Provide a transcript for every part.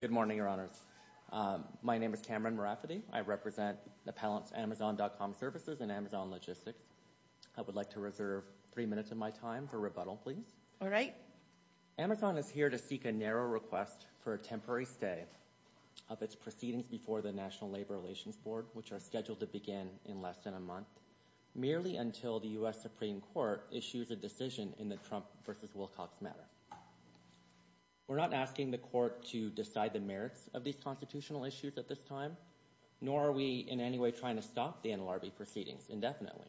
Good morning, Your Honors. My name is Cameron Moraffiti. I represent the appellants Amazon.com Services and Amazon Logistics. I would like to reserve three minutes of my time for rebuttal, please. All right. Amazon is here to seek a narrow request for a temporary stay of its proceedings before the National Labor Relations Board, which are scheduled to begin in less than a month, merely until the U.S. Supreme Court issues a decision in the Trump versus Wilcox matter. We're not asking the court to decide the merits of these constitutional issues at this time, nor are we in any way trying to stop the NLRB proceedings indefinitely.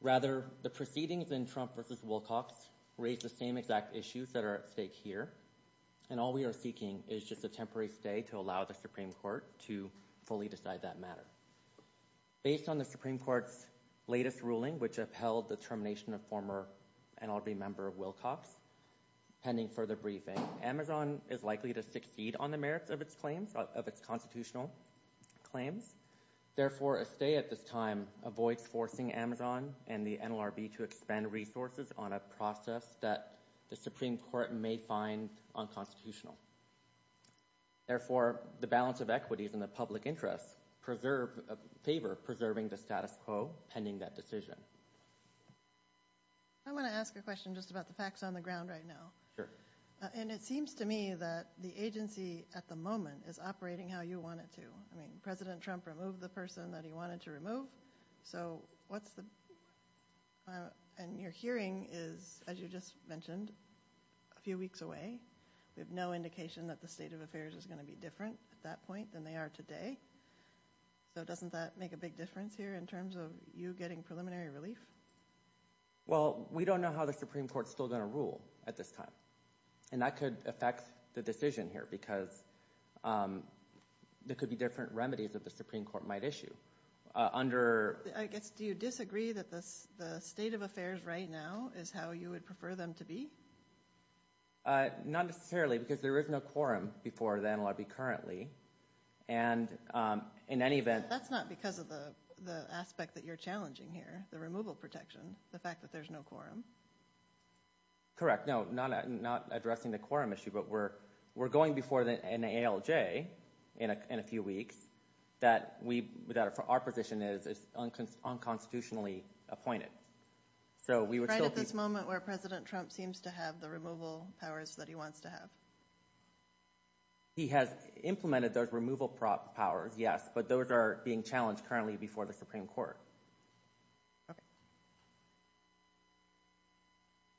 Rather, the proceedings in Trump versus Wilcox raise the same exact issues that are at stake here, and all we are seeking is just a temporary stay to allow the Supreme Court to fully decide that matter. Based on the Supreme Court's latest ruling, which upheld the termination of former NLRB member Wilcox, pending further briefing, Amazon is likely to succeed on the merits of its claims, of its constitutional claims. Therefore, a stay at this time avoids forcing Amazon and the NLRB to expend resources on a process that the Supreme Court may find unconstitutional. Therefore, the balance of equities and the public interest preserve, favor preserving the status quo pending that decision. I want to ask a question just about the facts on the ground right now. Sure. And it seems to me that the agency at the moment is operating how you want it to. I mean, President Trump removed the person that he wanted to remove, so what's the... and your hearing is, as you just mentioned, a few weeks away. We have no indication that the state of affairs is going to be different at that point than they are today, so doesn't that make a big difference here in terms of you getting preliminary relief? Well, we don't know how the Supreme Court's still going to rule at this time, and that could affect the decision here, because there could be different remedies that the Supreme Court might issue under... I guess, do you disagree that the state of affairs right now is how you would prefer them to be? Not necessarily, because there is no quorum before the NLRB currently, and in any event... That's not because of the aspect that you're challenging here, the removal protection, the fact that there's no quorum. Correct, no, not addressing the quorum issue, but we're going before the NALJ in a few weeks, that our position is unconstitutionally appointed. Right at this moment where President Trump seems to have the removal powers that he wants to have. He has implemented those removal powers, yes, but those are being challenged currently before the Supreme Court.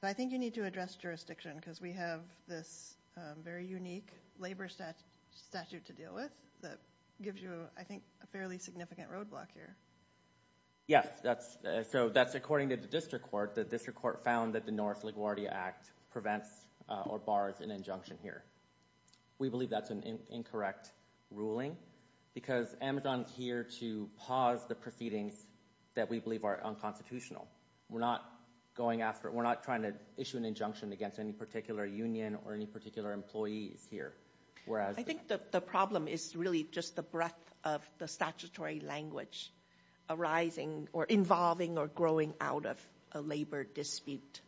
I think you need to address jurisdiction, because we have this very unique labor statute to deal with that gives you, I think, a fairly significant roadblock here. Yes, so that's according to the District Court. The District Court found that the North LaGuardia Act prevents or bars an injunction here. We believe that's an incorrect ruling, because Amazon's here to pause the proceedings that we believe are unconstitutional. We're not going after it, we're not trying to issue an injunction against any particular union or any particular employees here, whereas... I think that the problem is really just the breadth of the statutory language arising or involving or growing out of a labor dispute.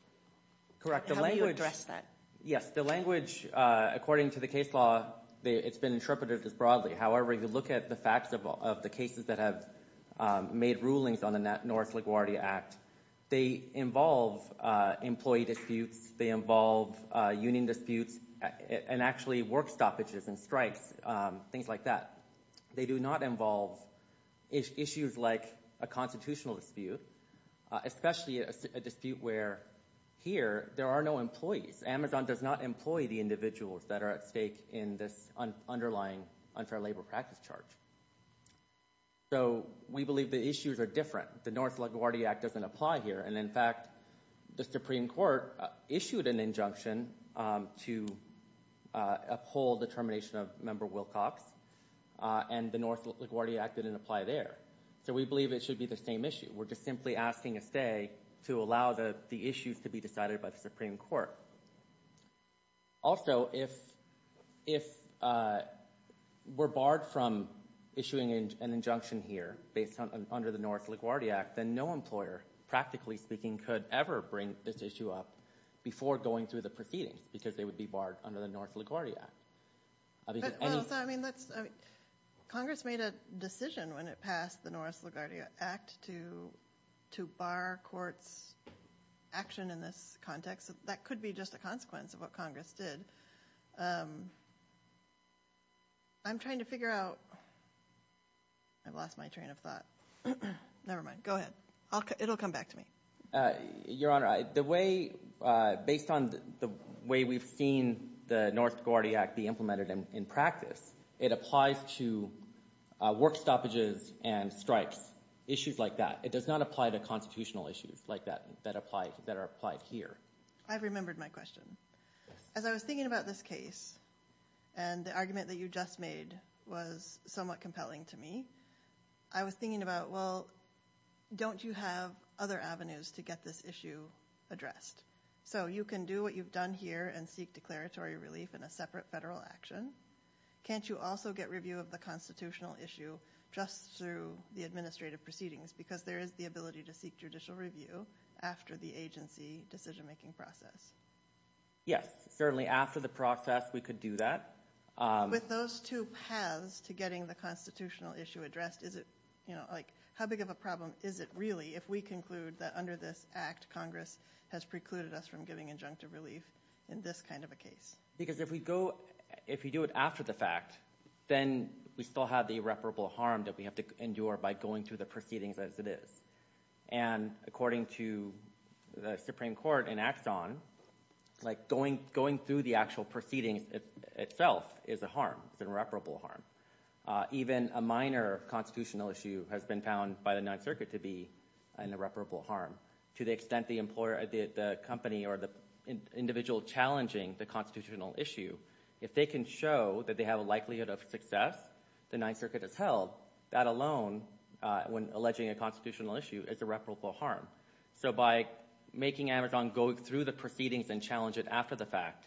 Correct. How do you address that? Yes, the language, according to the case law, it's been interpreted as broadly. However, you look at the facts of all of the cases that have made rulings on the North LaGuardia Act, they involve employee disputes, they involve union disputes, and actually work stoppages and strikes, things like that. They do not involve issues like a constitutional dispute, especially a dispute where, here, there are no employees. Amazon does not employ the individuals that are at stake in this underlying unfair labor practice charge. So we believe the issues are different. The North LaGuardia Act doesn't apply here, and in fact, the Supreme Court issued an injunction to uphold the termination of Member Wilcox and the North LaGuardia Act didn't apply there. So we believe it should be the same issue. We're just simply asking a stay to allow the issues to be decided by the Supreme Court. Also, if we're barred from issuing an injunction here based on under the North LaGuardia Act, then no employer, practically speaking, could ever bring this issue up before going through the proceedings because they would be barred under the North LaGuardia Act. I mean, Congress made a decision when it passed the North LaGuardia Act to bar courts' action in this context. That could be just a consequence of what Congress did. I'm trying to figure out... I've lost my train of thought. Never mind. Go ahead. It'll depend on the way we've seen the North LaGuardia Act be implemented in practice. It applies to work stoppages and strikes, issues like that. It does not apply to constitutional issues like that that are applied here. I've remembered my question. As I was thinking about this case, and the argument that you just made was somewhat compelling to me, I was thinking about, well, don't you have other avenues to get this issue addressed? So you can do what you've done here and seek declaratory relief in a separate federal action. Can't you also get review of the constitutional issue just through the administrative proceedings because there is the ability to seek judicial review after the agency decision-making process? Yes, certainly after the process we could do that. With those two paths to getting the constitutional issue addressed, is it, you know, like, how big of a problem is it really if we conclude that under this Act Congress has precluded us from giving injunctive relief in this kind of a case? Because if we go, if we do it after the fact, then we still have the irreparable harm that we have to endure by going through the proceedings as it is. And according to the Supreme Court in Axon, like, going through the actual proceedings itself is a harm. It's an irreparable harm. Even a minor constitutional issue has been found by the Ninth Circuit to be an irreparable harm. To the extent the employer, the company, or the individual challenging the constitutional issue, if they can show that they have a likelihood of success, the Ninth Circuit has held. That alone, when alleging a constitutional issue, is irreparable harm. So by making Amazon go through the proceedings and challenge it after the fact,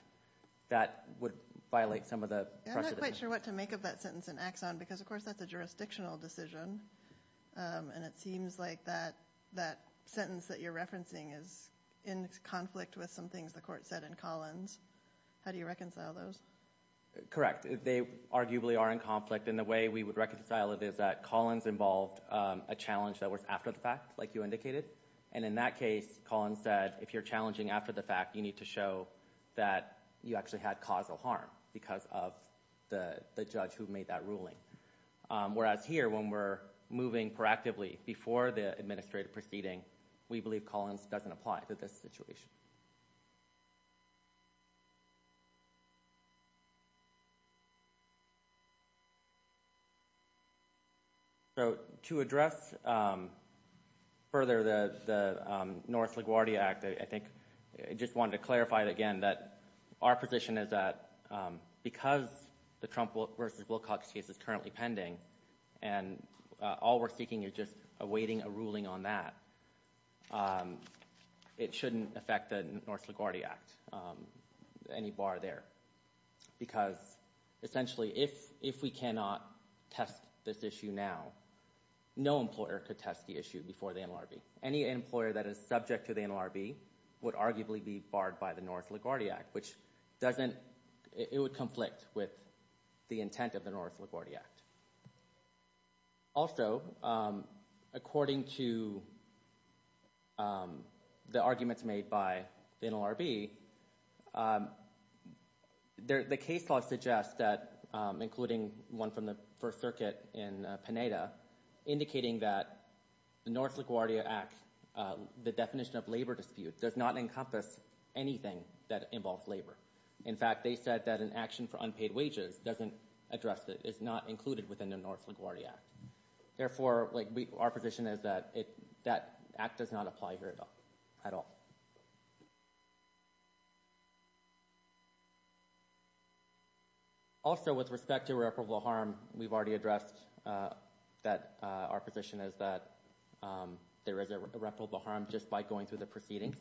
that would violate some of the precedent. I'm not quite sure what to make of that sentence in Axon, because of course that's a jurisdictional decision, and it seems like that sentence that you're referencing is in conflict with some things the court said in Collins. How do you reconcile those? Correct. They arguably are in conflict, and the way we would reconcile it is that Collins involved a challenge that was after the fact, like you indicated. And in that case, Collins said, if you're challenging after the fact, you need to show that you actually had causal harm, because of the judge who made that ruling. Whereas here, when we're moving proactively before the administrative proceeding, we believe Collins doesn't apply to this situation. So to address further the North LaGuardia Act, I think I just wanted to clarify again that our position is that because the Trump versus Wilcox case is currently pending, and all we're seeking is just awaiting a ruling on that, it shouldn't affect the North LaGuardia Act, any bar there. Because essentially, if we cannot test this issue now, no employer could test the issue before the NLRB. Any employer that is subject to the NLRB would arguably be barred by the North LaGuardia Act, which doesn't, it would conflict with the intent of the North LaGuardia Act. Also, according to the arguments made by the NLRB, the case law suggests that, including one from the First Circuit in Pineda, indicating that the North LaGuardia Act, the definition of labor dispute, does not encompass anything that involves labor. In fact, they said that an action for unpaid wages doesn't address it, it's not included within the North LaGuardia Act. Therefore, our position is that it, that act does not apply here at all. Also, with respect to irreparable harm, we've already addressed that our position is that there is irreparable harm just by going through the proceedings,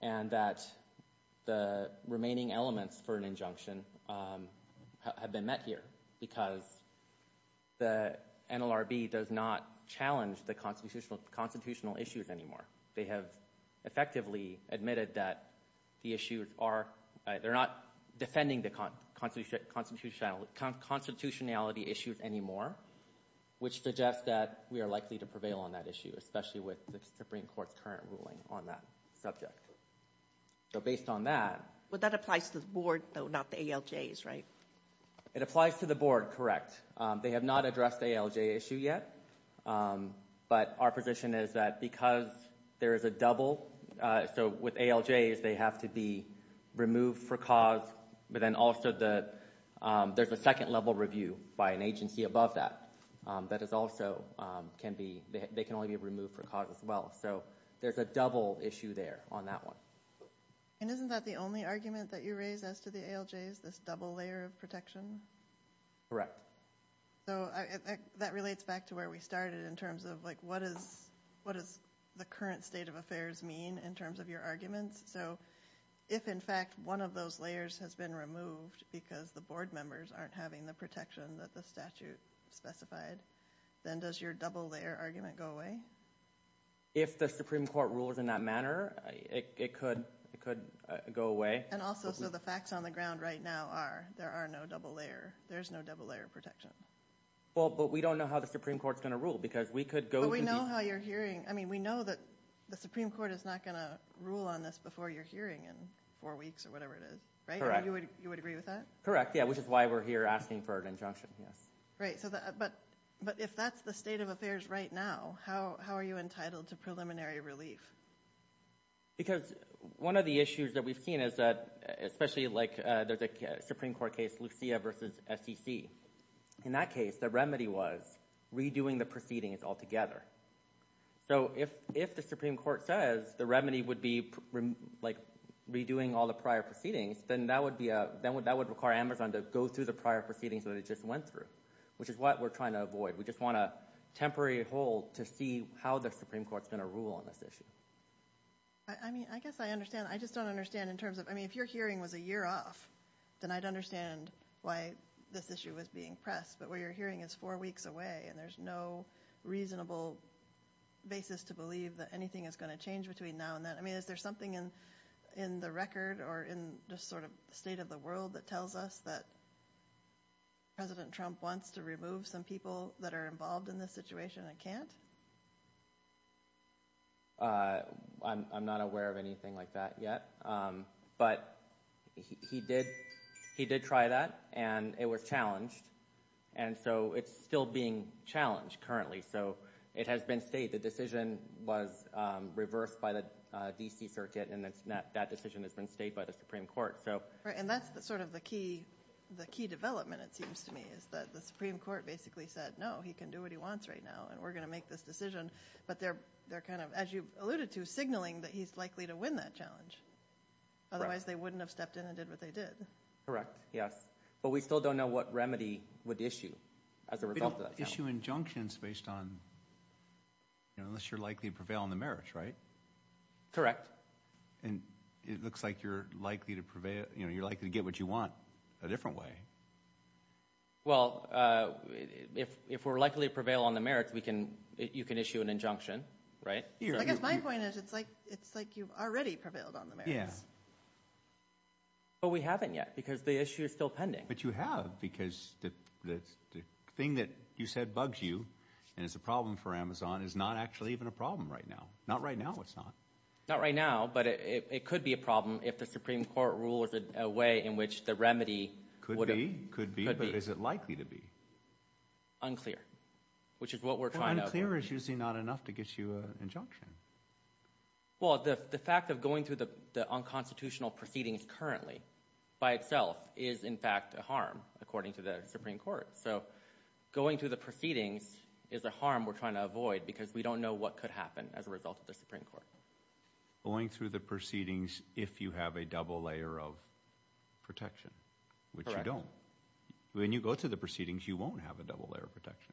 and that the remaining elements for an injunction have been met here, because the NLRB does not challenge the constitutional issues anymore. They have effectively admitted that the issues are, they're not defending the constitutionality issues anymore, which suggests that we are likely to prevail on that issue, especially with the Supreme Court's current ruling on that subject. So, based on that... Well, that applies to the board, though, not the ALJs, right? It applies to the board, correct. They have not addressed the ALJ issue yet, but our position is that because there is a double, so with ALJs, they have to be removed for cause, but then also the, there's a second level review by an agency above that, that is also, can be, they can only be removed for cause as well. So, there's a double issue there on that one. And isn't that the only argument that you raise as to the ALJs, this double layer of protection? Correct. So, that relates back to where we started in terms of, like, what is, what is the current state of affairs mean in terms of your arguments? So, if, in fact, one of those layers has been removed because the board members aren't having the protection that the statute specified, then does your double layer argument go away? If the Supreme Court rules in that manner, it could, it could go away. And also, so the facts on the ground right now are, there are no double layer, there's no double layer of protection. Well, but we don't know how the Supreme Court's gonna rule because we could go... But we know how you're hearing, I mean, we know that the Supreme Court is not gonna rule on this before your hearing in four weeks or whatever it is, right? Correct. You would, you would agree with that? Correct, yeah, which is why we're here asking for an injunction, yes. Right, so that, but, but if that's the state of affairs right now, how, how are you entitled to preliminary relief? Because one of the issues that we've seen is that, especially, like, there's a Supreme Court case, Lucia versus SEC. In that case, the remedy was redoing the proceedings altogether. So if, if the Supreme Court says the remedy would be, like, redoing all the prior proceedings, then that would be a, that would, that would require Amazon to go through the prior proceedings that it just went through, which is what we're trying to avoid. We just want a temporary hold to see how the Supreme Court's gonna rule on this issue. I mean, I guess I understand, I just don't understand in terms of, I mean, if your hearing was a year off, then I'd understand why this issue was being pressed, but what you're hearing is four weeks away, and there's no reasonable basis to believe that anything is going to change between now and then. I mean, is there something in, in the record, or in the sort of state of the world that tells us that President Trump wants to remove some people that are involved in this situation and can't? I'm not aware of anything like that yet, but he did, he did try that, and it was challenged, and so it's still being challenged currently, so it has been stated, the decision was reversed by the DC Circuit, and it's not, that decision has been stated by the Supreme Court, so. Right, and that's the sort of the key, the key development, it seems to me, is that the Supreme Court basically said, no, he can do what he wants right now, and we're gonna make this decision, but they're, they're kind of, as you alluded to, signaling that he's likely to win that challenge, otherwise they wouldn't have stepped in and did what they did. Correct, yes, but we still don't know what remedy would issue as a result of that. Issue injunctions based on, you know, unless you're likely to prevail on the merits, right? Correct. And it looks like you're likely to prevail, you know, you're likely to get what you want a different way. Well, if, if we're likely to prevail on the merits, we can, you can issue an injunction, right? I guess my point is, it's like, it's like you've already prevailed on the merits. Yeah. But we haven't yet, because the issue is still pending. But you have, because the thing that you said bugs you, and it's a problem for Amazon, is not actually even a problem right now. Not right now, it's not. Not right now, but it could be a problem if the Supreme Court rules a way in which the remedy... Could be, could be, but is it likely to be? Unclear, which is what we're trying to... Well, unclear is usually not enough to get you an injunction. Well, the fact of going through the unconstitutional proceedings currently, by itself, is in fact a harm, according to the Supreme Court. So, going through the proceedings is a harm we're trying to avoid, because we don't know what could happen as a result of the Supreme Court. Going through the proceedings if you have a double layer of protection, which you don't. When you go to the proceedings, you won't have a double layer of protection.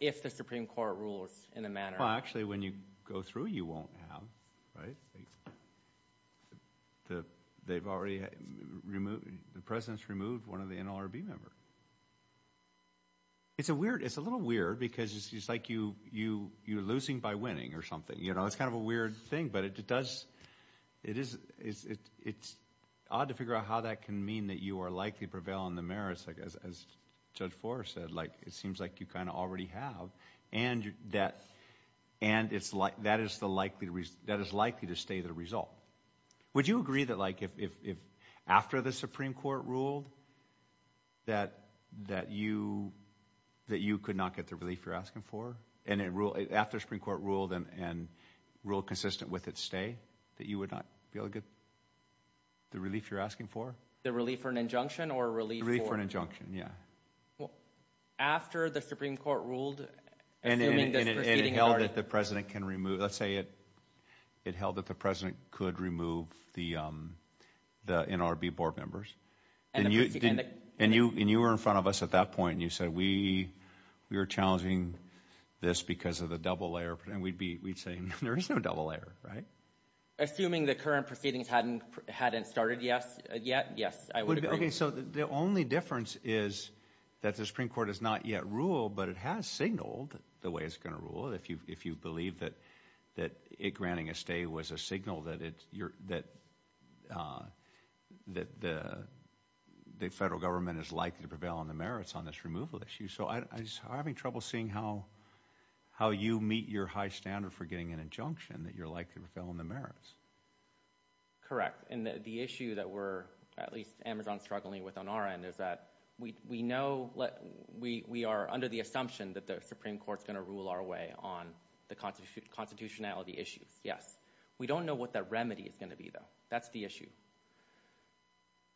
If the Supreme Court rules in a manner... Well, actually, when you go through, you won't have, right? They've already removed, the President's removed one of the NLRB members. It's a weird, it's a little weird, because it's just like you, you, you're losing by winning, or something, you know? It's kind of a weird thing, but it does, it is, it's odd to figure out how that can mean that you are likely to prevail on the merits, like as Judge Forrest said, like it seems like you kind of already have, and that, and it's like, that is the likely, that is likely to stay the result. Would you agree that like, if after the Supreme Court ruled, that, that you, that you could not get the relief you're asking for? And it ruled, after Supreme Court ruled, and ruled consistent with its stay, that you would not be able to get the relief you're asking for? The Supreme Court ruled... And it held that the President can remove, let's say it, it held that the President could remove the, the NLRB board members, and you, and you, and you were in front of us at that point, and you said, we, we were challenging this because of the double layer, and we'd be, we'd say, there is no double layer, right? Assuming the current proceedings hadn't, hadn't started, yes, yet, yes. Okay, so the only difference is that the Supreme Court has not yet ruled, but it has signaled the way it's going to rule, if you, if you believe that, that it granting a stay was a signal that it's, you're, that, that the, the federal government is likely to prevail on the merits on this removal issue. So I'm having trouble seeing how, how you meet your high standard for getting an injunction that you're likely to prevail on the merits. Correct, and the issue that we're, at our end, is that we, we know, we, we are under the assumption that the Supreme Court's going to rule our way on the constitutionality issues, yes. We don't know what that remedy is going to be, though. That's the issue.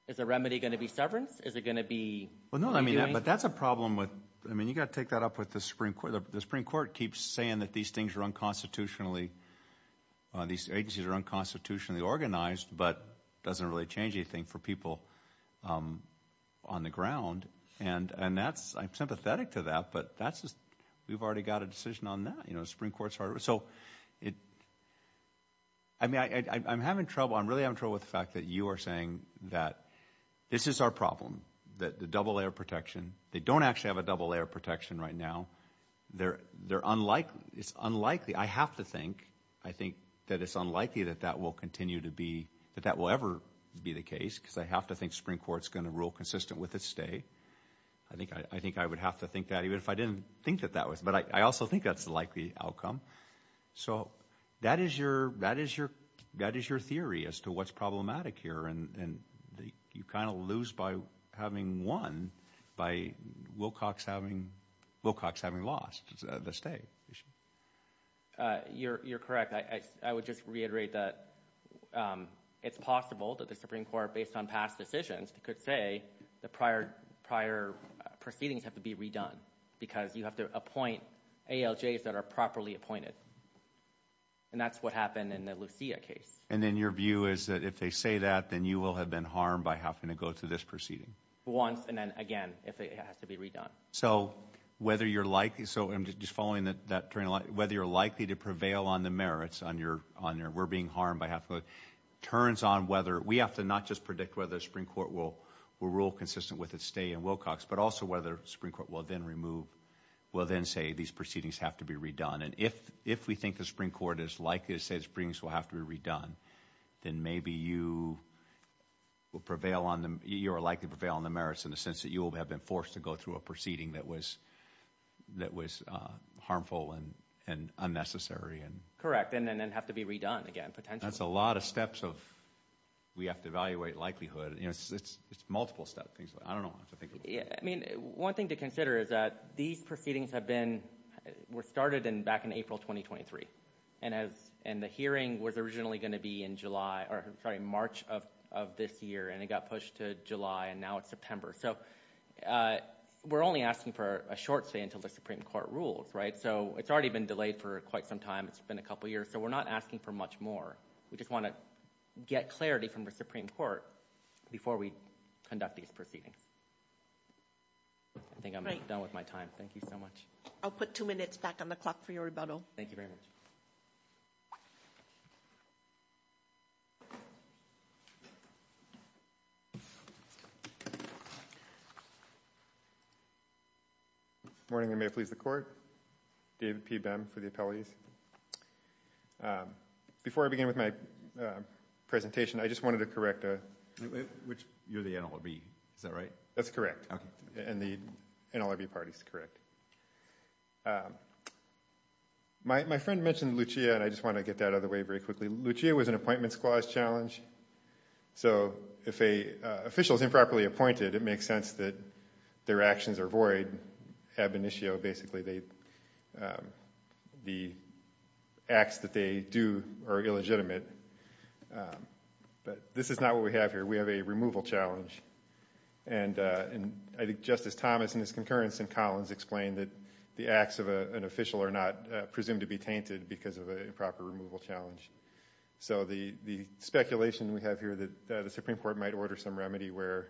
Is the remedy going to be severance? Is it going to be... Well, no, I mean, but that's a problem with, I mean, you got to take that up with the Supreme Court. The Supreme Court keeps saying that these things are unconstitutionally, these agencies are unconstitutionally organized, but doesn't really change anything for people. On the ground, and, and that's, I'm sympathetic to that, but that's just, we've already got a decision on that, you know, the Supreme Court's hard, so it, I mean, I'm having trouble, I'm really having trouble with the fact that you are saying that this is our problem, that the double layer protection, they don't actually have a double layer protection right now, they're, they're unlikely, it's unlikely, I have to think, I think that it's unlikely that that will continue to be, that that will ever be the case, because I have to think Supreme Court's going to rule consistent with its stay. I think, I think I would have to think that even if I didn't think that that was, but I also think that's the likely outcome. So that is your, that is your, that is your theory as to what's problematic here, and you kind of lose by having won by Wilcox having, Wilcox having lost the stay. You're, you're correct. I would just reiterate that it's possible that the Supreme Court, based on past decisions, could say the prior, prior proceedings have to be redone, because you have to appoint ALJs that are properly appointed, and that's what happened in the Lucia case. And then your view is that if they say that, then you will have been harmed by having to go to this proceeding? Once, and then again, if it has to be redone. So whether you're likely, so I'm just following that, that, whether you're likely to prevail on the merits on your, on your, we're being harmed by having to go, turns on whether, we have to not just predict whether the Supreme Court will, will rule consistent with its stay in Wilcox, but also whether the Supreme Court will then remove, will then say these proceedings have to be redone. And if, if we think the Supreme Court is likely to say these proceedings will have to be redone, then maybe you will prevail on them, you are likely to prevail on the merits in the sense that you will have been forced to go through a proceeding that was, that was harmful and, and unnecessary. Correct, and then have to be redone again, potentially. That's a lot of steps of, we have to evaluate likelihood, you know, it's, it's, it's multiple step things, I don't know. Yeah, I mean, one thing to consider is that these proceedings have been, were started in, back in April 2023, and as, and the hearing was originally going to be in July, or sorry, March of this year, and it got pushed to July, and now it's September. So we're only asking for a short stay until the Supreme Court rules, right? So it's already been delayed for quite some time, it's been a couple years, so we're not asking for much more. We just want to get clarity from the Supreme Court before we conduct these proceedings. I think I'm done with my time, thank you so much. I'll put two minutes back on the clock for your rebuttal. Thank you very much. Morning, and may it please the Court. David P. Bem for the appellees. Before I begin with my presentation, I just wanted to correct a... Which, you're the NLRB, is that right? That's correct, and the NLRB party's correct. My friend mentioned Lucia, and I just want to get that out of the way very quickly. Lucia was an appointments clause challenge. So if a official is improperly appointed, it makes sense that their actions are void. Ab initio, basically, the acts that they do are illegitimate. But this is not what we have here. We have a removal challenge, and I think Justice Thomas and his concurrence in Collins explained that the acts of an official are not presumed to be tainted because of a proper removal challenge. So the speculation we have here that the Supreme Court might order some remedy where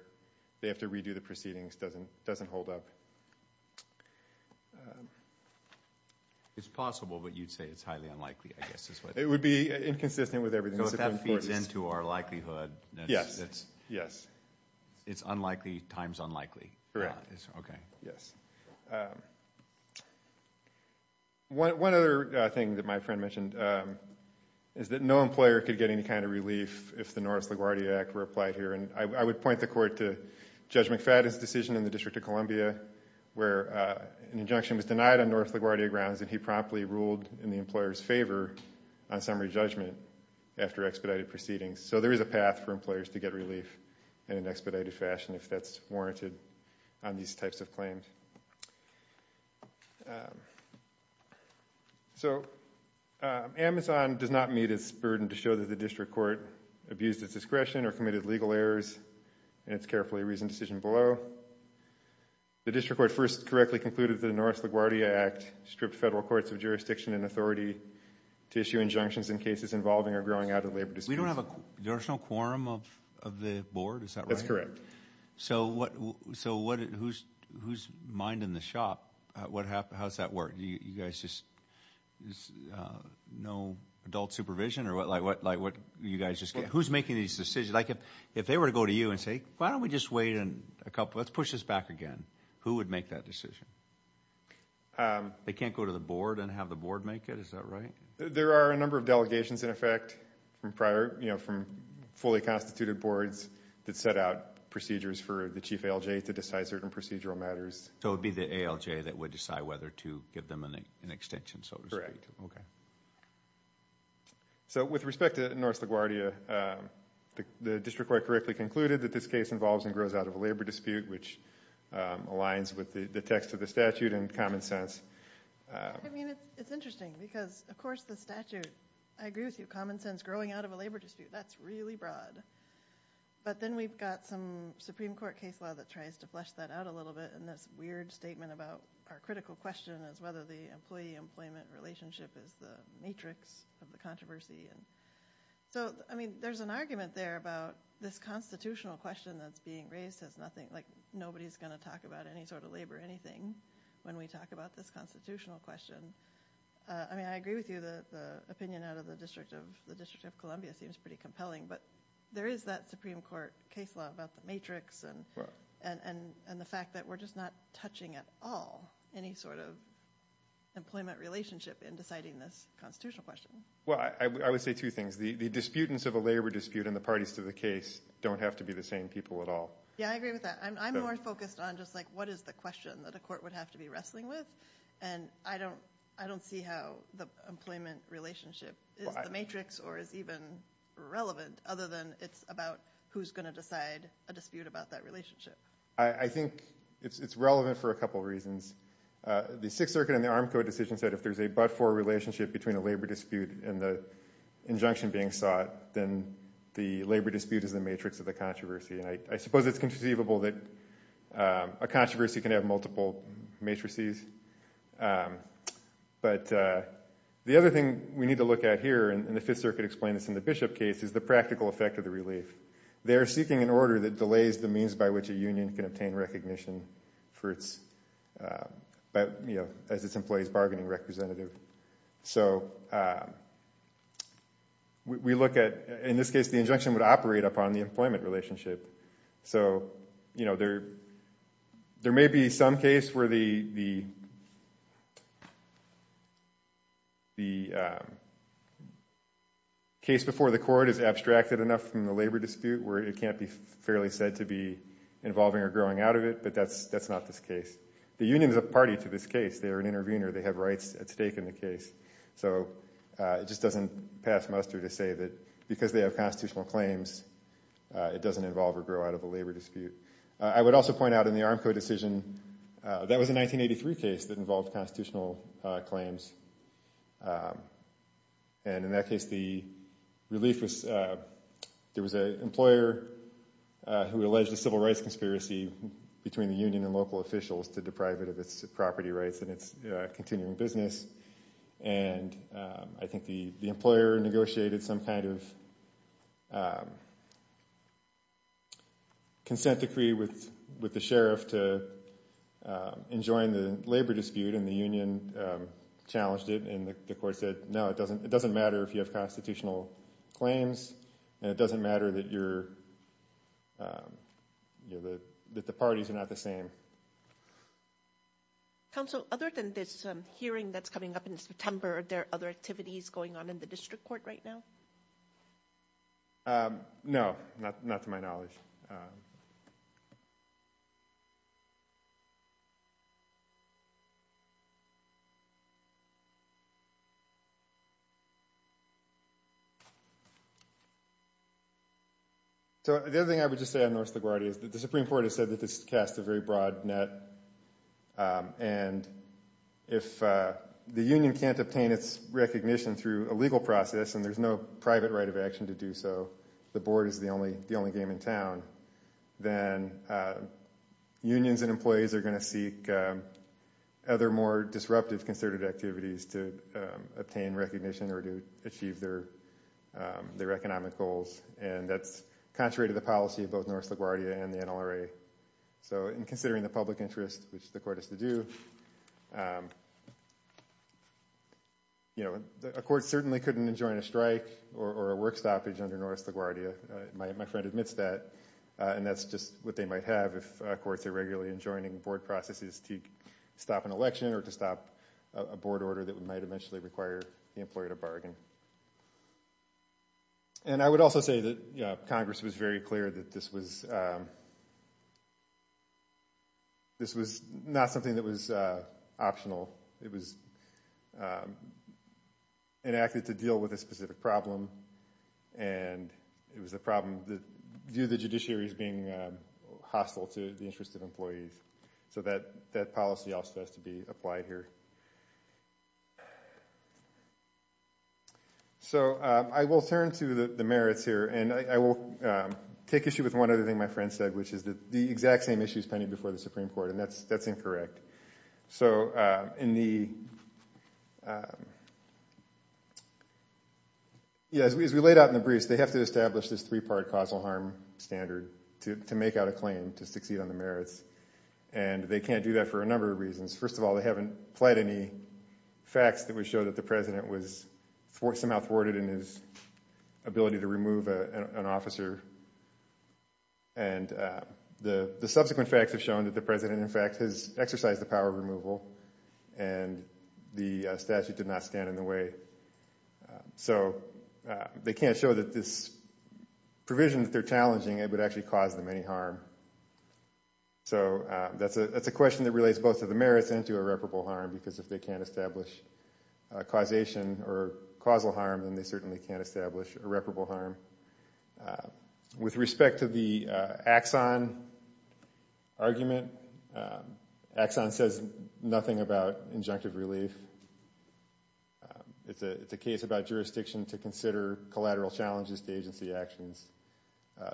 they have to redo the proceedings doesn't hold up. It's possible, but you'd say it's highly unlikely, I guess. It would be inconsistent with everything. So if that feeds into our likelihood, it's unlikely times unlikely. Correct. Yes. One other thing that my friend mentioned is that no employer could get any kind of relief if the Norris LaGuardia Act were applied here, and I would point the court to Judge McFadden's decision in the District of Columbia where an injunction was denied on Norris LaGuardia grounds, and he promptly ruled in the employer's favor on summary judgment after expedited proceedings. So there is a path for employers to get relief in an expedited fashion if that's warranted on these types of claims. So Amazon does not meet its burden to show that the district court abused its discretion or committed legal errors in its carefully reasoned decision below. The district court first correctly concluded that the Norris LaGuardia Act stripped federal courts of jurisdiction and authority to issue injunctions in cases involving or growing out of labor disputes. We don't have an additional quorum of the board, is that right? That's correct. So who's minding the shop? How's that work? You guys just, no adult supervision or what, like what you guys just get? Who's making these decisions? Like if they were to go to you and say, why don't we just wait a couple, let's push this back again, who would make that decision? They can't go to the board and have the board make it, is that right? There are a number of delegations in effect from prior, you know, from fully constituted boards that set out procedures for the chief ALJ to decide certain procedural matters. So it would be the ALJ that would decide whether to give them an extension, so to speak? Correct. Okay. So with respect to Norris LaGuardia, the district court correctly concluded that this case involves and grows out of a labor dispute, which aligns with the text of the statute and common sense. I mean it's interesting because of course the statute, I agree with you, common sense growing out of a labor dispute, that's really broad. But then we've got some Supreme Court case law that tries to flesh that out a little bit and this weird statement about our critical question is whether the employee employment relationship is the matrix of the controversy. And so I mean there's an argument there about this constitutional question that's being raised has nothing, like nobody's going to talk about any sort of labor or anything when we talk about this constitutional question. I mean I agree with you that the opinion out of the District of Columbia seems pretty compelling but there is that Supreme Court case law about the matrix and the fact that we're just not touching at all any sort of employment relationship in deciding this constitutional question. Well I would say two things. The disputants of a labor dispute and the parties to the case don't have to be the same people at all. Yeah I agree with that. I'm more focused on just like what is the question that a court would have to be wrestling with and I don't see how the employment relationship is the matrix or is even relevant other than it's about who's going to decide a dispute about that relationship. I think it's relevant for a couple reasons. The Sixth Circuit and the Arm Code decision said if there's a but-for relationship between a labor dispute and the injunction being sought then the labor dispute is the matrix of the controversy and I suppose it's conceivable that a controversy can have multiple matrices but the other thing we need to look at here and the Fifth Circuit explained this in the Bishop case is the practical effect of the relief. They are seeking an order that delays the means by which a union can obtain recognition for its but you know as its employees bargaining representative. So we look at in this case the injunction would operate upon the employment relationship. So you know there may be some case where the case before the court is abstracted enough from the labor dispute where it can't be fairly said to be involving or growing out of it but that's that's not this case. The union is a party to this case. They are an intervener. They have rights at stake in the case. So it just doesn't pass muster to say that because they have constitutional claims it doesn't involve or grow out of a labor dispute. I would also point out in the Armco decision that was a 1983 case that involved constitutional claims and in that case the relief was there was a employer who alleged a civil rights conspiracy between the union and local officials to deprive it of its property rights and its continuing business and I think the the employer negotiated some kind of consent decree with with the sheriff to enjoin the labor dispute and the union challenged it and the court said no it doesn't it doesn't matter if you have constitutional claims and it doesn't matter that you're you know the that the parties are not the same. Counsel other than this hearing that's coming up in September are there other activities going on in the district court right now? No, not to my knowledge. So the other thing I would just say on North LaGuardia is that the Supreme Court has said that this cast a very broad net and if the union can't obtain its recognition through a legal process and there's no private right of action to do so the board is the only the only game in town then unions and employees are going to seek other more disruptive concerted activities to obtain recognition or to achieve their their economic goals and that's contrary to the policy of both North LaGuardia and the NLRA. So in considering the public interest which the court has to do you know a court certainly couldn't enjoin a strike or a work stoppage under North LaGuardia. My friend admits that and that's just what they might have if courts are regularly enjoining board processes to stop an election or to stop a board order that might eventually require the employer to bargain. And I was very clear that this was this was not something that was optional. It was enacted to deal with a specific problem and it was a problem that view the judiciary as being hostile to the interest of employees so that that policy also has to be applied here. So I will turn to the merits here and I will take issue with one other thing my friend said which is that the exact same issues pending before the Supreme Court and that's that's incorrect. So in the yes we as we laid out in the briefs they have to establish this three-part causal harm standard to make out a claim to succeed on the merits and they can't do that for a number of reasons. First of all they haven't played any facts that we showed that the president was for somehow thwarted in his ability to remove an officer and the the subsequent facts have shown that the president in fact has exercised the power of removal and the statute did not stand in the way. So they can't show that this provision that they're challenging it would actually cause them any harm. So that's a that's a question that relates both of the merits into irreparable harm because if they can't establish causation or causal harm then they certainly can't establish irreparable harm. With respect to the Axon argument, Axon says nothing about injunctive relief. It's a case about jurisdiction to consider collateral challenges to agency actions.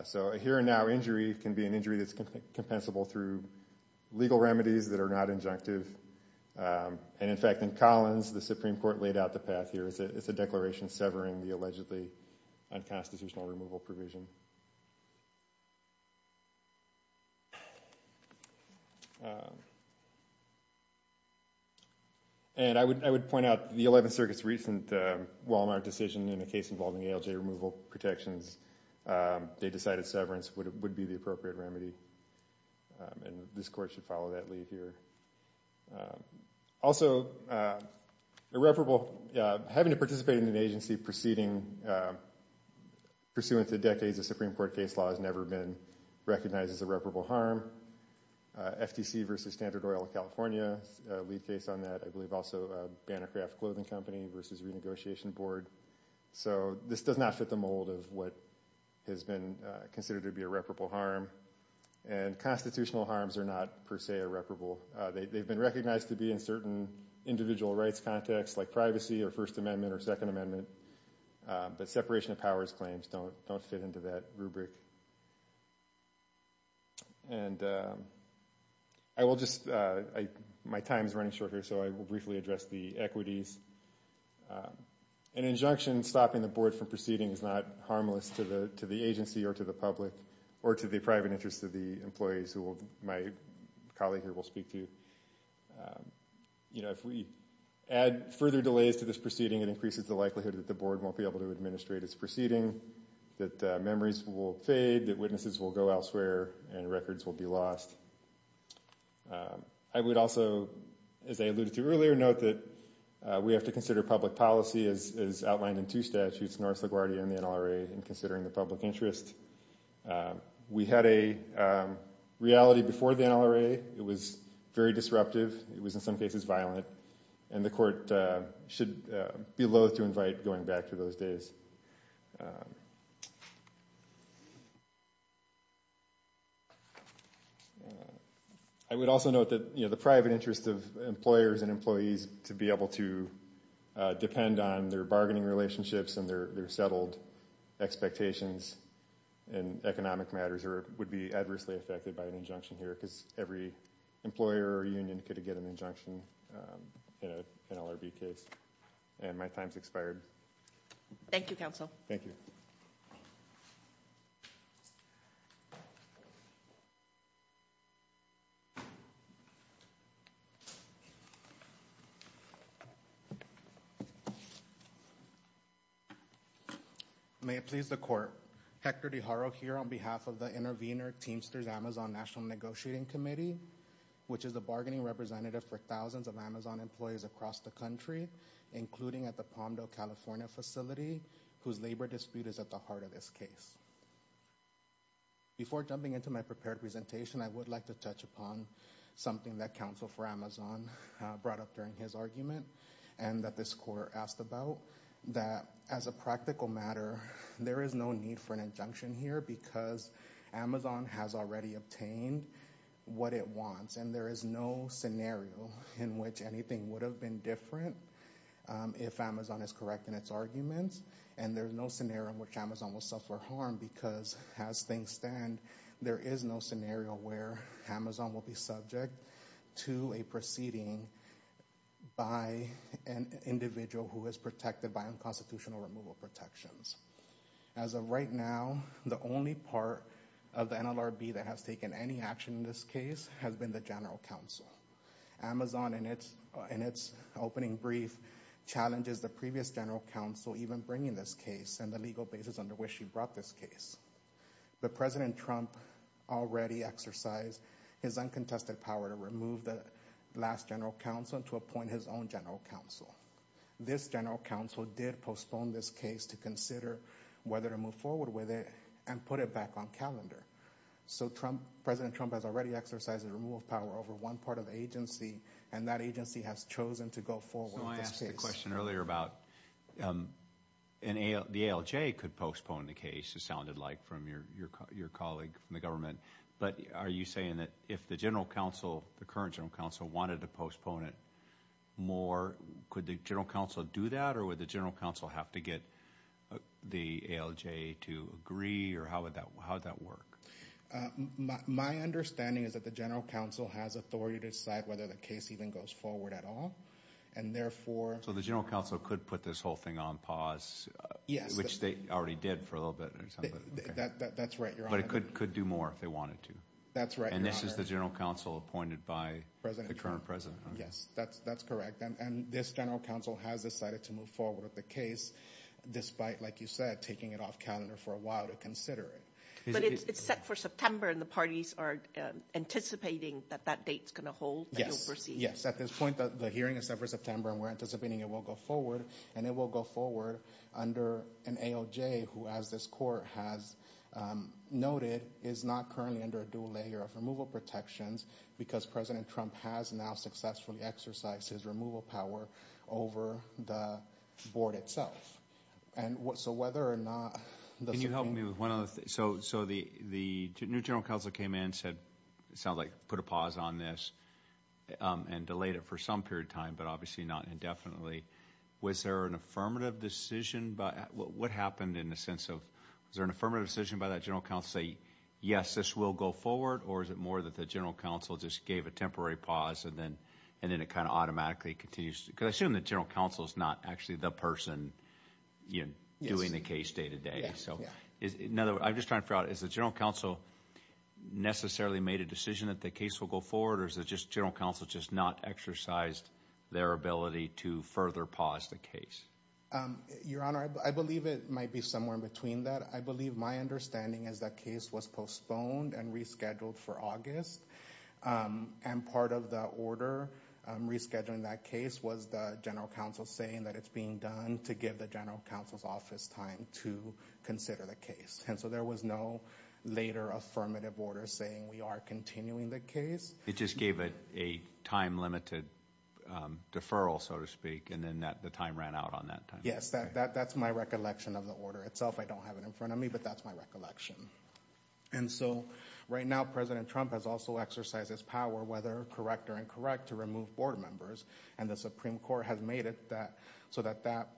So a here-and-now injury can be an injury that's compensable through legal remedies that are not injunctive and in fact in Collins the Supreme Court laid out the path here. It's a declaration severing the allegedly unconstitutional removal provision. And I would point out the 11th Circuit's recent Walmart decision in a case involving ALJ removal protections. They decided severance would be the appropriate remedy and this court should follow that here. Also irreparable having to participate in an agency proceeding pursuant to decades of Supreme Court case law has never been recognized as irreparable harm. FTC versus Standard Oil of California, a lead case on that. I believe also Banner Craft Clothing Company versus Renegotiation Board. So this does not fit the mold of what has been considered to be irreparable harm and constitutional harms are not per se irreparable. They've been recognized to be in certain individual rights context like privacy or First Amendment or Second Amendment, but separation of powers claims don't don't fit into that rubric. And I will just, my time is running short here, so I will briefly address the equities. An injunction stopping the board from proceeding is not harmless to the agency or to the public or to the private interests of the employees who my colleague here will speak to. You know, if we add further delays to this proceeding, it increases the likelihood that the board won't be able to administrate its proceeding, that memories will fade, that witnesses will go elsewhere, and records will be lost. I would also, as I alluded to earlier, note that we have to consider public policy as outlined in two statutes, North Guardian and NLRA, in considering the public interest. We had a reality before the NLRA. It was very disruptive. It was in some cases violent, and the court should be loath to invite going back to those days. I would also note that, you know, the private interest of employers and employees to be able to depend on their bargaining relationships and their settled expectations in economic matters would be adversely affected by an injunction here, because every employer or union could get an injunction in an LRB case. And my time's expired. Thank you, counsel. Thank you. May it please the court. Hector de Haro here on behalf of the Intervenor Teamsters Amazon National Negotiating Committee, which is a bargaining representative for thousands of Amazon employees across the country, including at the Palmdale, California facility, whose labor dispute is at the heart of this case. Before jumping into my prepared presentation, I would like to touch upon something that counsel for Amazon brought up during his argument, and that this court asked about. That, as a practical matter, there is no need for an injunction here, because Amazon has already obtained what it wants, and there is no scenario in which anything would have been different if Amazon is correct in its arguments, and there's no scenario in which Amazon will suffer harm, because as things stand, there is no scenario where Amazon will be subject to a proceeding by an individual who is protected by unconstitutional removal protections. As of right now, the only part of the NLRB that has taken any action in this case has been the General Counsel. Amazon, in its opening brief, challenges the previous General Counsel even bringing this case and the legal basis under which she brought this case. But President Trump already exercised his uncontested power to remove the last General Counsel and to appoint his own General Counsel. This General Counsel did postpone this case to consider whether to move forward with it and put it back on calendar. So President Trump has already exercised a removal of power over one part of the agency, and that agency has chosen to go forward with this case. So I asked a question earlier about the ALJ could postpone the case, it sounded like, from your colleague from the government, but are you saying that if the General Counsel, the current General Counsel, wanted to postpone it more, could the General Counsel do that or would the General Counsel have to get the ALJ to agree, or how would that, how would that work? My understanding is that the General Counsel has authority to decide whether the case even goes forward at all, and therefore... So the General Counsel could put this whole thing on pause, which they already did for a little bit. That's right, Your Honor. But it could could do more if they Yes, that's that's correct, and this General Counsel has decided to move forward with the case, despite, like you said, taking it off calendar for a while to consider it. But it's set for September and the parties are anticipating that that date's gonna hold? Yes, yes, at this point the hearing is set for September and we're anticipating it will go forward, and it will go forward under an ALJ who, as this Court has noted, is not currently under a dual layer of removal protections, because President Trump has now successfully exercised his removal power over the Board itself. And so whether or not... Can you help me with one other thing, so so the the new General Counsel came in, said it sounds like put a pause on this and delayed it for some period of time, but obviously not indefinitely. Was there an affirmative decision, what happened in the sense of, was there an affirmative decision by that General Counsel to say, yes this will go forward or is it more that the General Counsel just gave a temporary pause and then and then it kind of automatically continues? Because I assume the General Counsel is not actually the person, you know, doing the case day-to-day. So in other words, I'm just trying to figure out, is the General Counsel necessarily made a decision that the case will go forward or is it just General Counsel just not exercised their ability to further pause the case? Your Honor, I believe it might be somewhere in between that. I believe my understanding is that case was postponed and rescheduled for August. And part of the order rescheduling that case was the General Counsel saying that it's being done to give the General Counsel's office time to consider the case. And so there was no later affirmative order saying we are continuing the case. It just gave it a time-limited deferral, so to speak, and then that the time ran out on that time? Yes, that that's my recollection of the order itself. I don't have it in front of me, but that's my recollection. And so right now President Trump has also exercised his power, whether correct or incorrect, to remove board members. And the Supreme Court has made it that so that that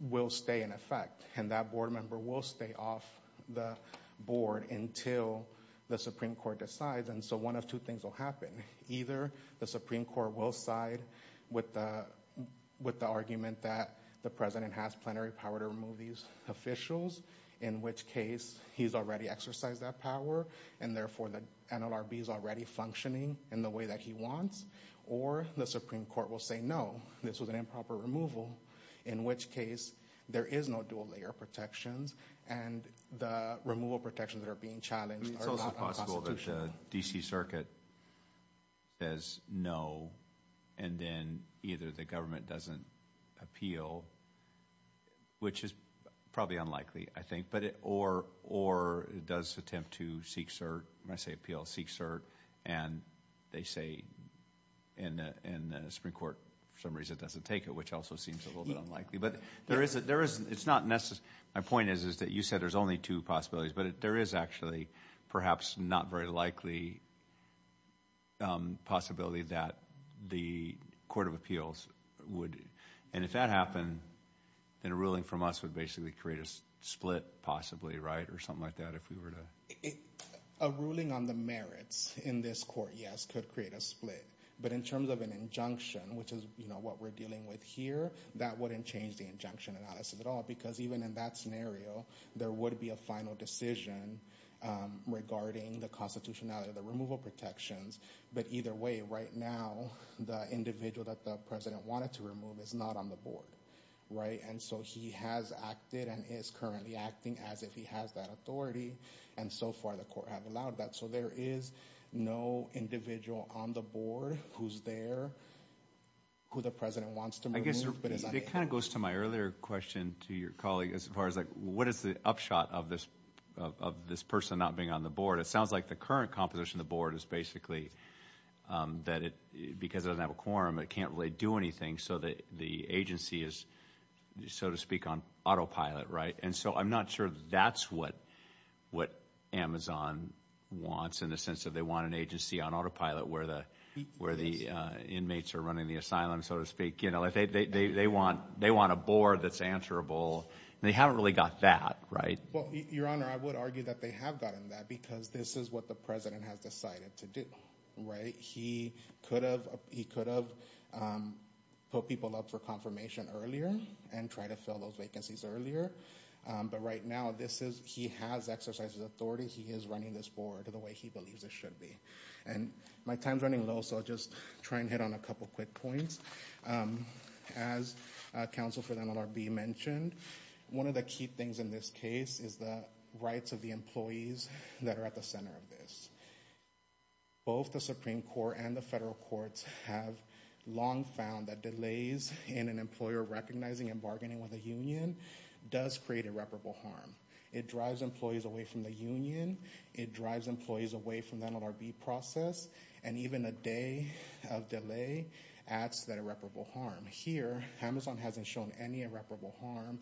will stay in effect. And that board member will stay off the board until the Supreme Court decides. And so one of two things will happen. Either the Supreme Court will side with the argument that the President has plenary power to remove these officials, in which case he's already exercised that power, and therefore the NLRB is already functioning in the way that he wants. Or the Supreme Court will say no, this was an improper removal, in which case there is no dual-layer protections, and the removal protections that are being challenged are not unconstitutional. It's also possible that the DC Circuit says no, and then either the government doesn't appeal, which is probably unlikely, I think, or it does attempt to seek cert, when I say appeal, seek cert, and they say in the Supreme Court, for some reason, it doesn't take it, which also seems a little bit unlikely. But there is, it's not necessary, my point is that you said there's only two possibilities, but there is actually perhaps not very likely possibility that the Court of Appeals would, and if that happened, then a ruling from us would basically create a split, possibly, right, or something like that, if we were to... A ruling on the merits in this court, yes, could create a split, but in terms of an injunction, which is, you know, what we're dealing with here, that wouldn't change the injunction analysis at all, because even in that scenario, there would be a final decision regarding the constitutionality of the removal protections, but either way, right now, the individual that the president wanted to remove is not on the board, right, and so he has acted and is currently acting as if he has that authority, and so far, the court have allowed that, so there is no individual on the board who's there, who the president wants to remove, but is not there. It kind of goes to my earlier question to your colleague, as far as like, what is the upshot of this, of this person not being on the board? It sounds like the current composition of the board is basically that it, because it doesn't have a quorum, it can't really do anything, so that the agency is, so to speak, on autopilot, right, and so I'm not sure that's what, what Amazon wants, in the sense that they want an agency on autopilot, where the, where the inmates are running the asylum, so to speak, you know, if they, they, they want, they want a board that's answerable, and they haven't really got that, right? Well, your honor, I would argue that they have gotten that, because this is what the president has decided to do, right? He could have, he could have put people up for confirmation earlier, and try to fill those vacancies earlier, but right now, this is, he has exercises authority, he is running this board to the way he believes it should be, and my time's running low, so I'll just try and hit on a couple quick points. As counsel for the NLRB mentioned, one of the key things in this case is the rights of the employees that are at the center of this. Both the Supreme Court and the federal courts have long found that delays in an employer recognizing and bargaining with a union does create irreparable harm. It drives employees away from the union, it drives employees away from the NLRB process, and even a day of delay adds to that irreparable harm. Here, Amazon hasn't shown any irreparable harm,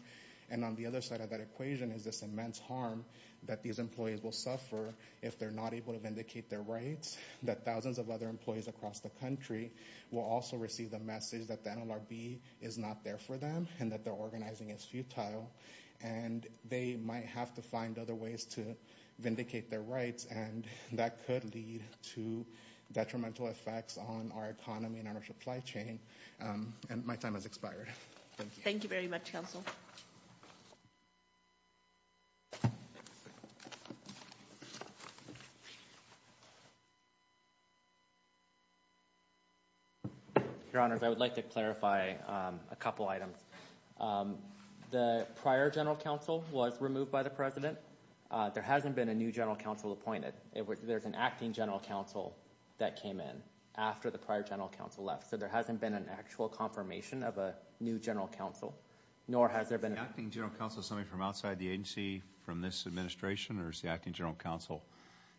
and on the other side of that equation is this immense harm that these employees will suffer if they're not able to vindicate their rights, that thousands of other employees across the country will also receive the message that the NLRB is not there for them, and that their organizing is futile, and they might have to find other ways to vindicate their rights, and that could lead to detrimental effects on our economy and our supply chain, and my time has expired. Thank you very much, Counsel. Your Honors, I would like to clarify a couple items. The prior General Counsel was removed by the President. There hasn't been a new General Counsel appointed. There's an acting General Counsel that came in after the prior General Counsel left, so there hasn't been an actual confirmation of a new General Counsel, nor has there been... The acting General Counsel is somebody from outside the agency from this administration, or is the acting General Counsel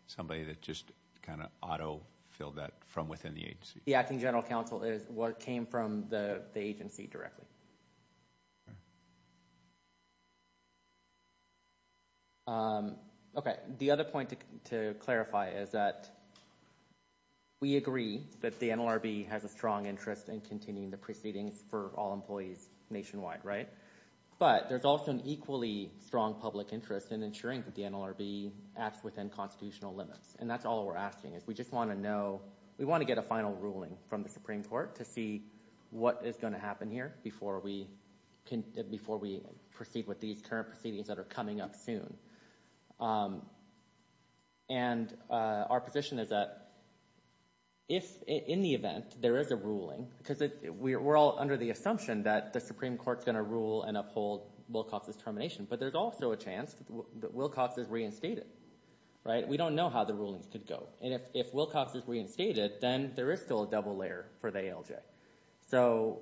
somebody that just kind of auto-filled that from within the agency? The acting General Counsel is what came from the agency directly. Okay, the other point to clarify is that we agree that the NLRB has a strong interest in continuing the proceedings for all employees nationwide, right? But there's also an equally strong public interest in ensuring that the NLRB acts within constitutional limits, and that's all we're asking, is we just want to know, we want to get a final ruling from the Supreme Court to see what is going to happen here before we proceed with these current proceedings that are coming up soon, and our position is that if, in the event, there is a ruling, because we're all under the assumption that the Supreme Court's going to rule and uphold Wilcox's termination, but there's also a chance that Wilcox is reinstated, right? We don't know how the rulings could go, and if Wilcox is reinstated, then there is still a double layer for the ALJ. So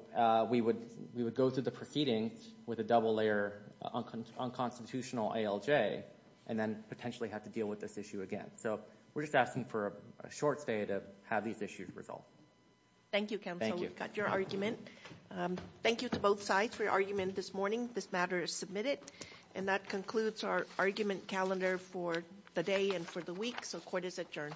we would go through the proceedings with a double layer on constitutional ALJ, and then potentially have to deal with this issue again. So we're just asking for a short stay to have these issues resolved. Thank you, counsel. We've got your argument. Thank you to both sides for your argument this morning. This matter is submitted, and that concludes our argument calendar for the day and for the week, so court is adjourned.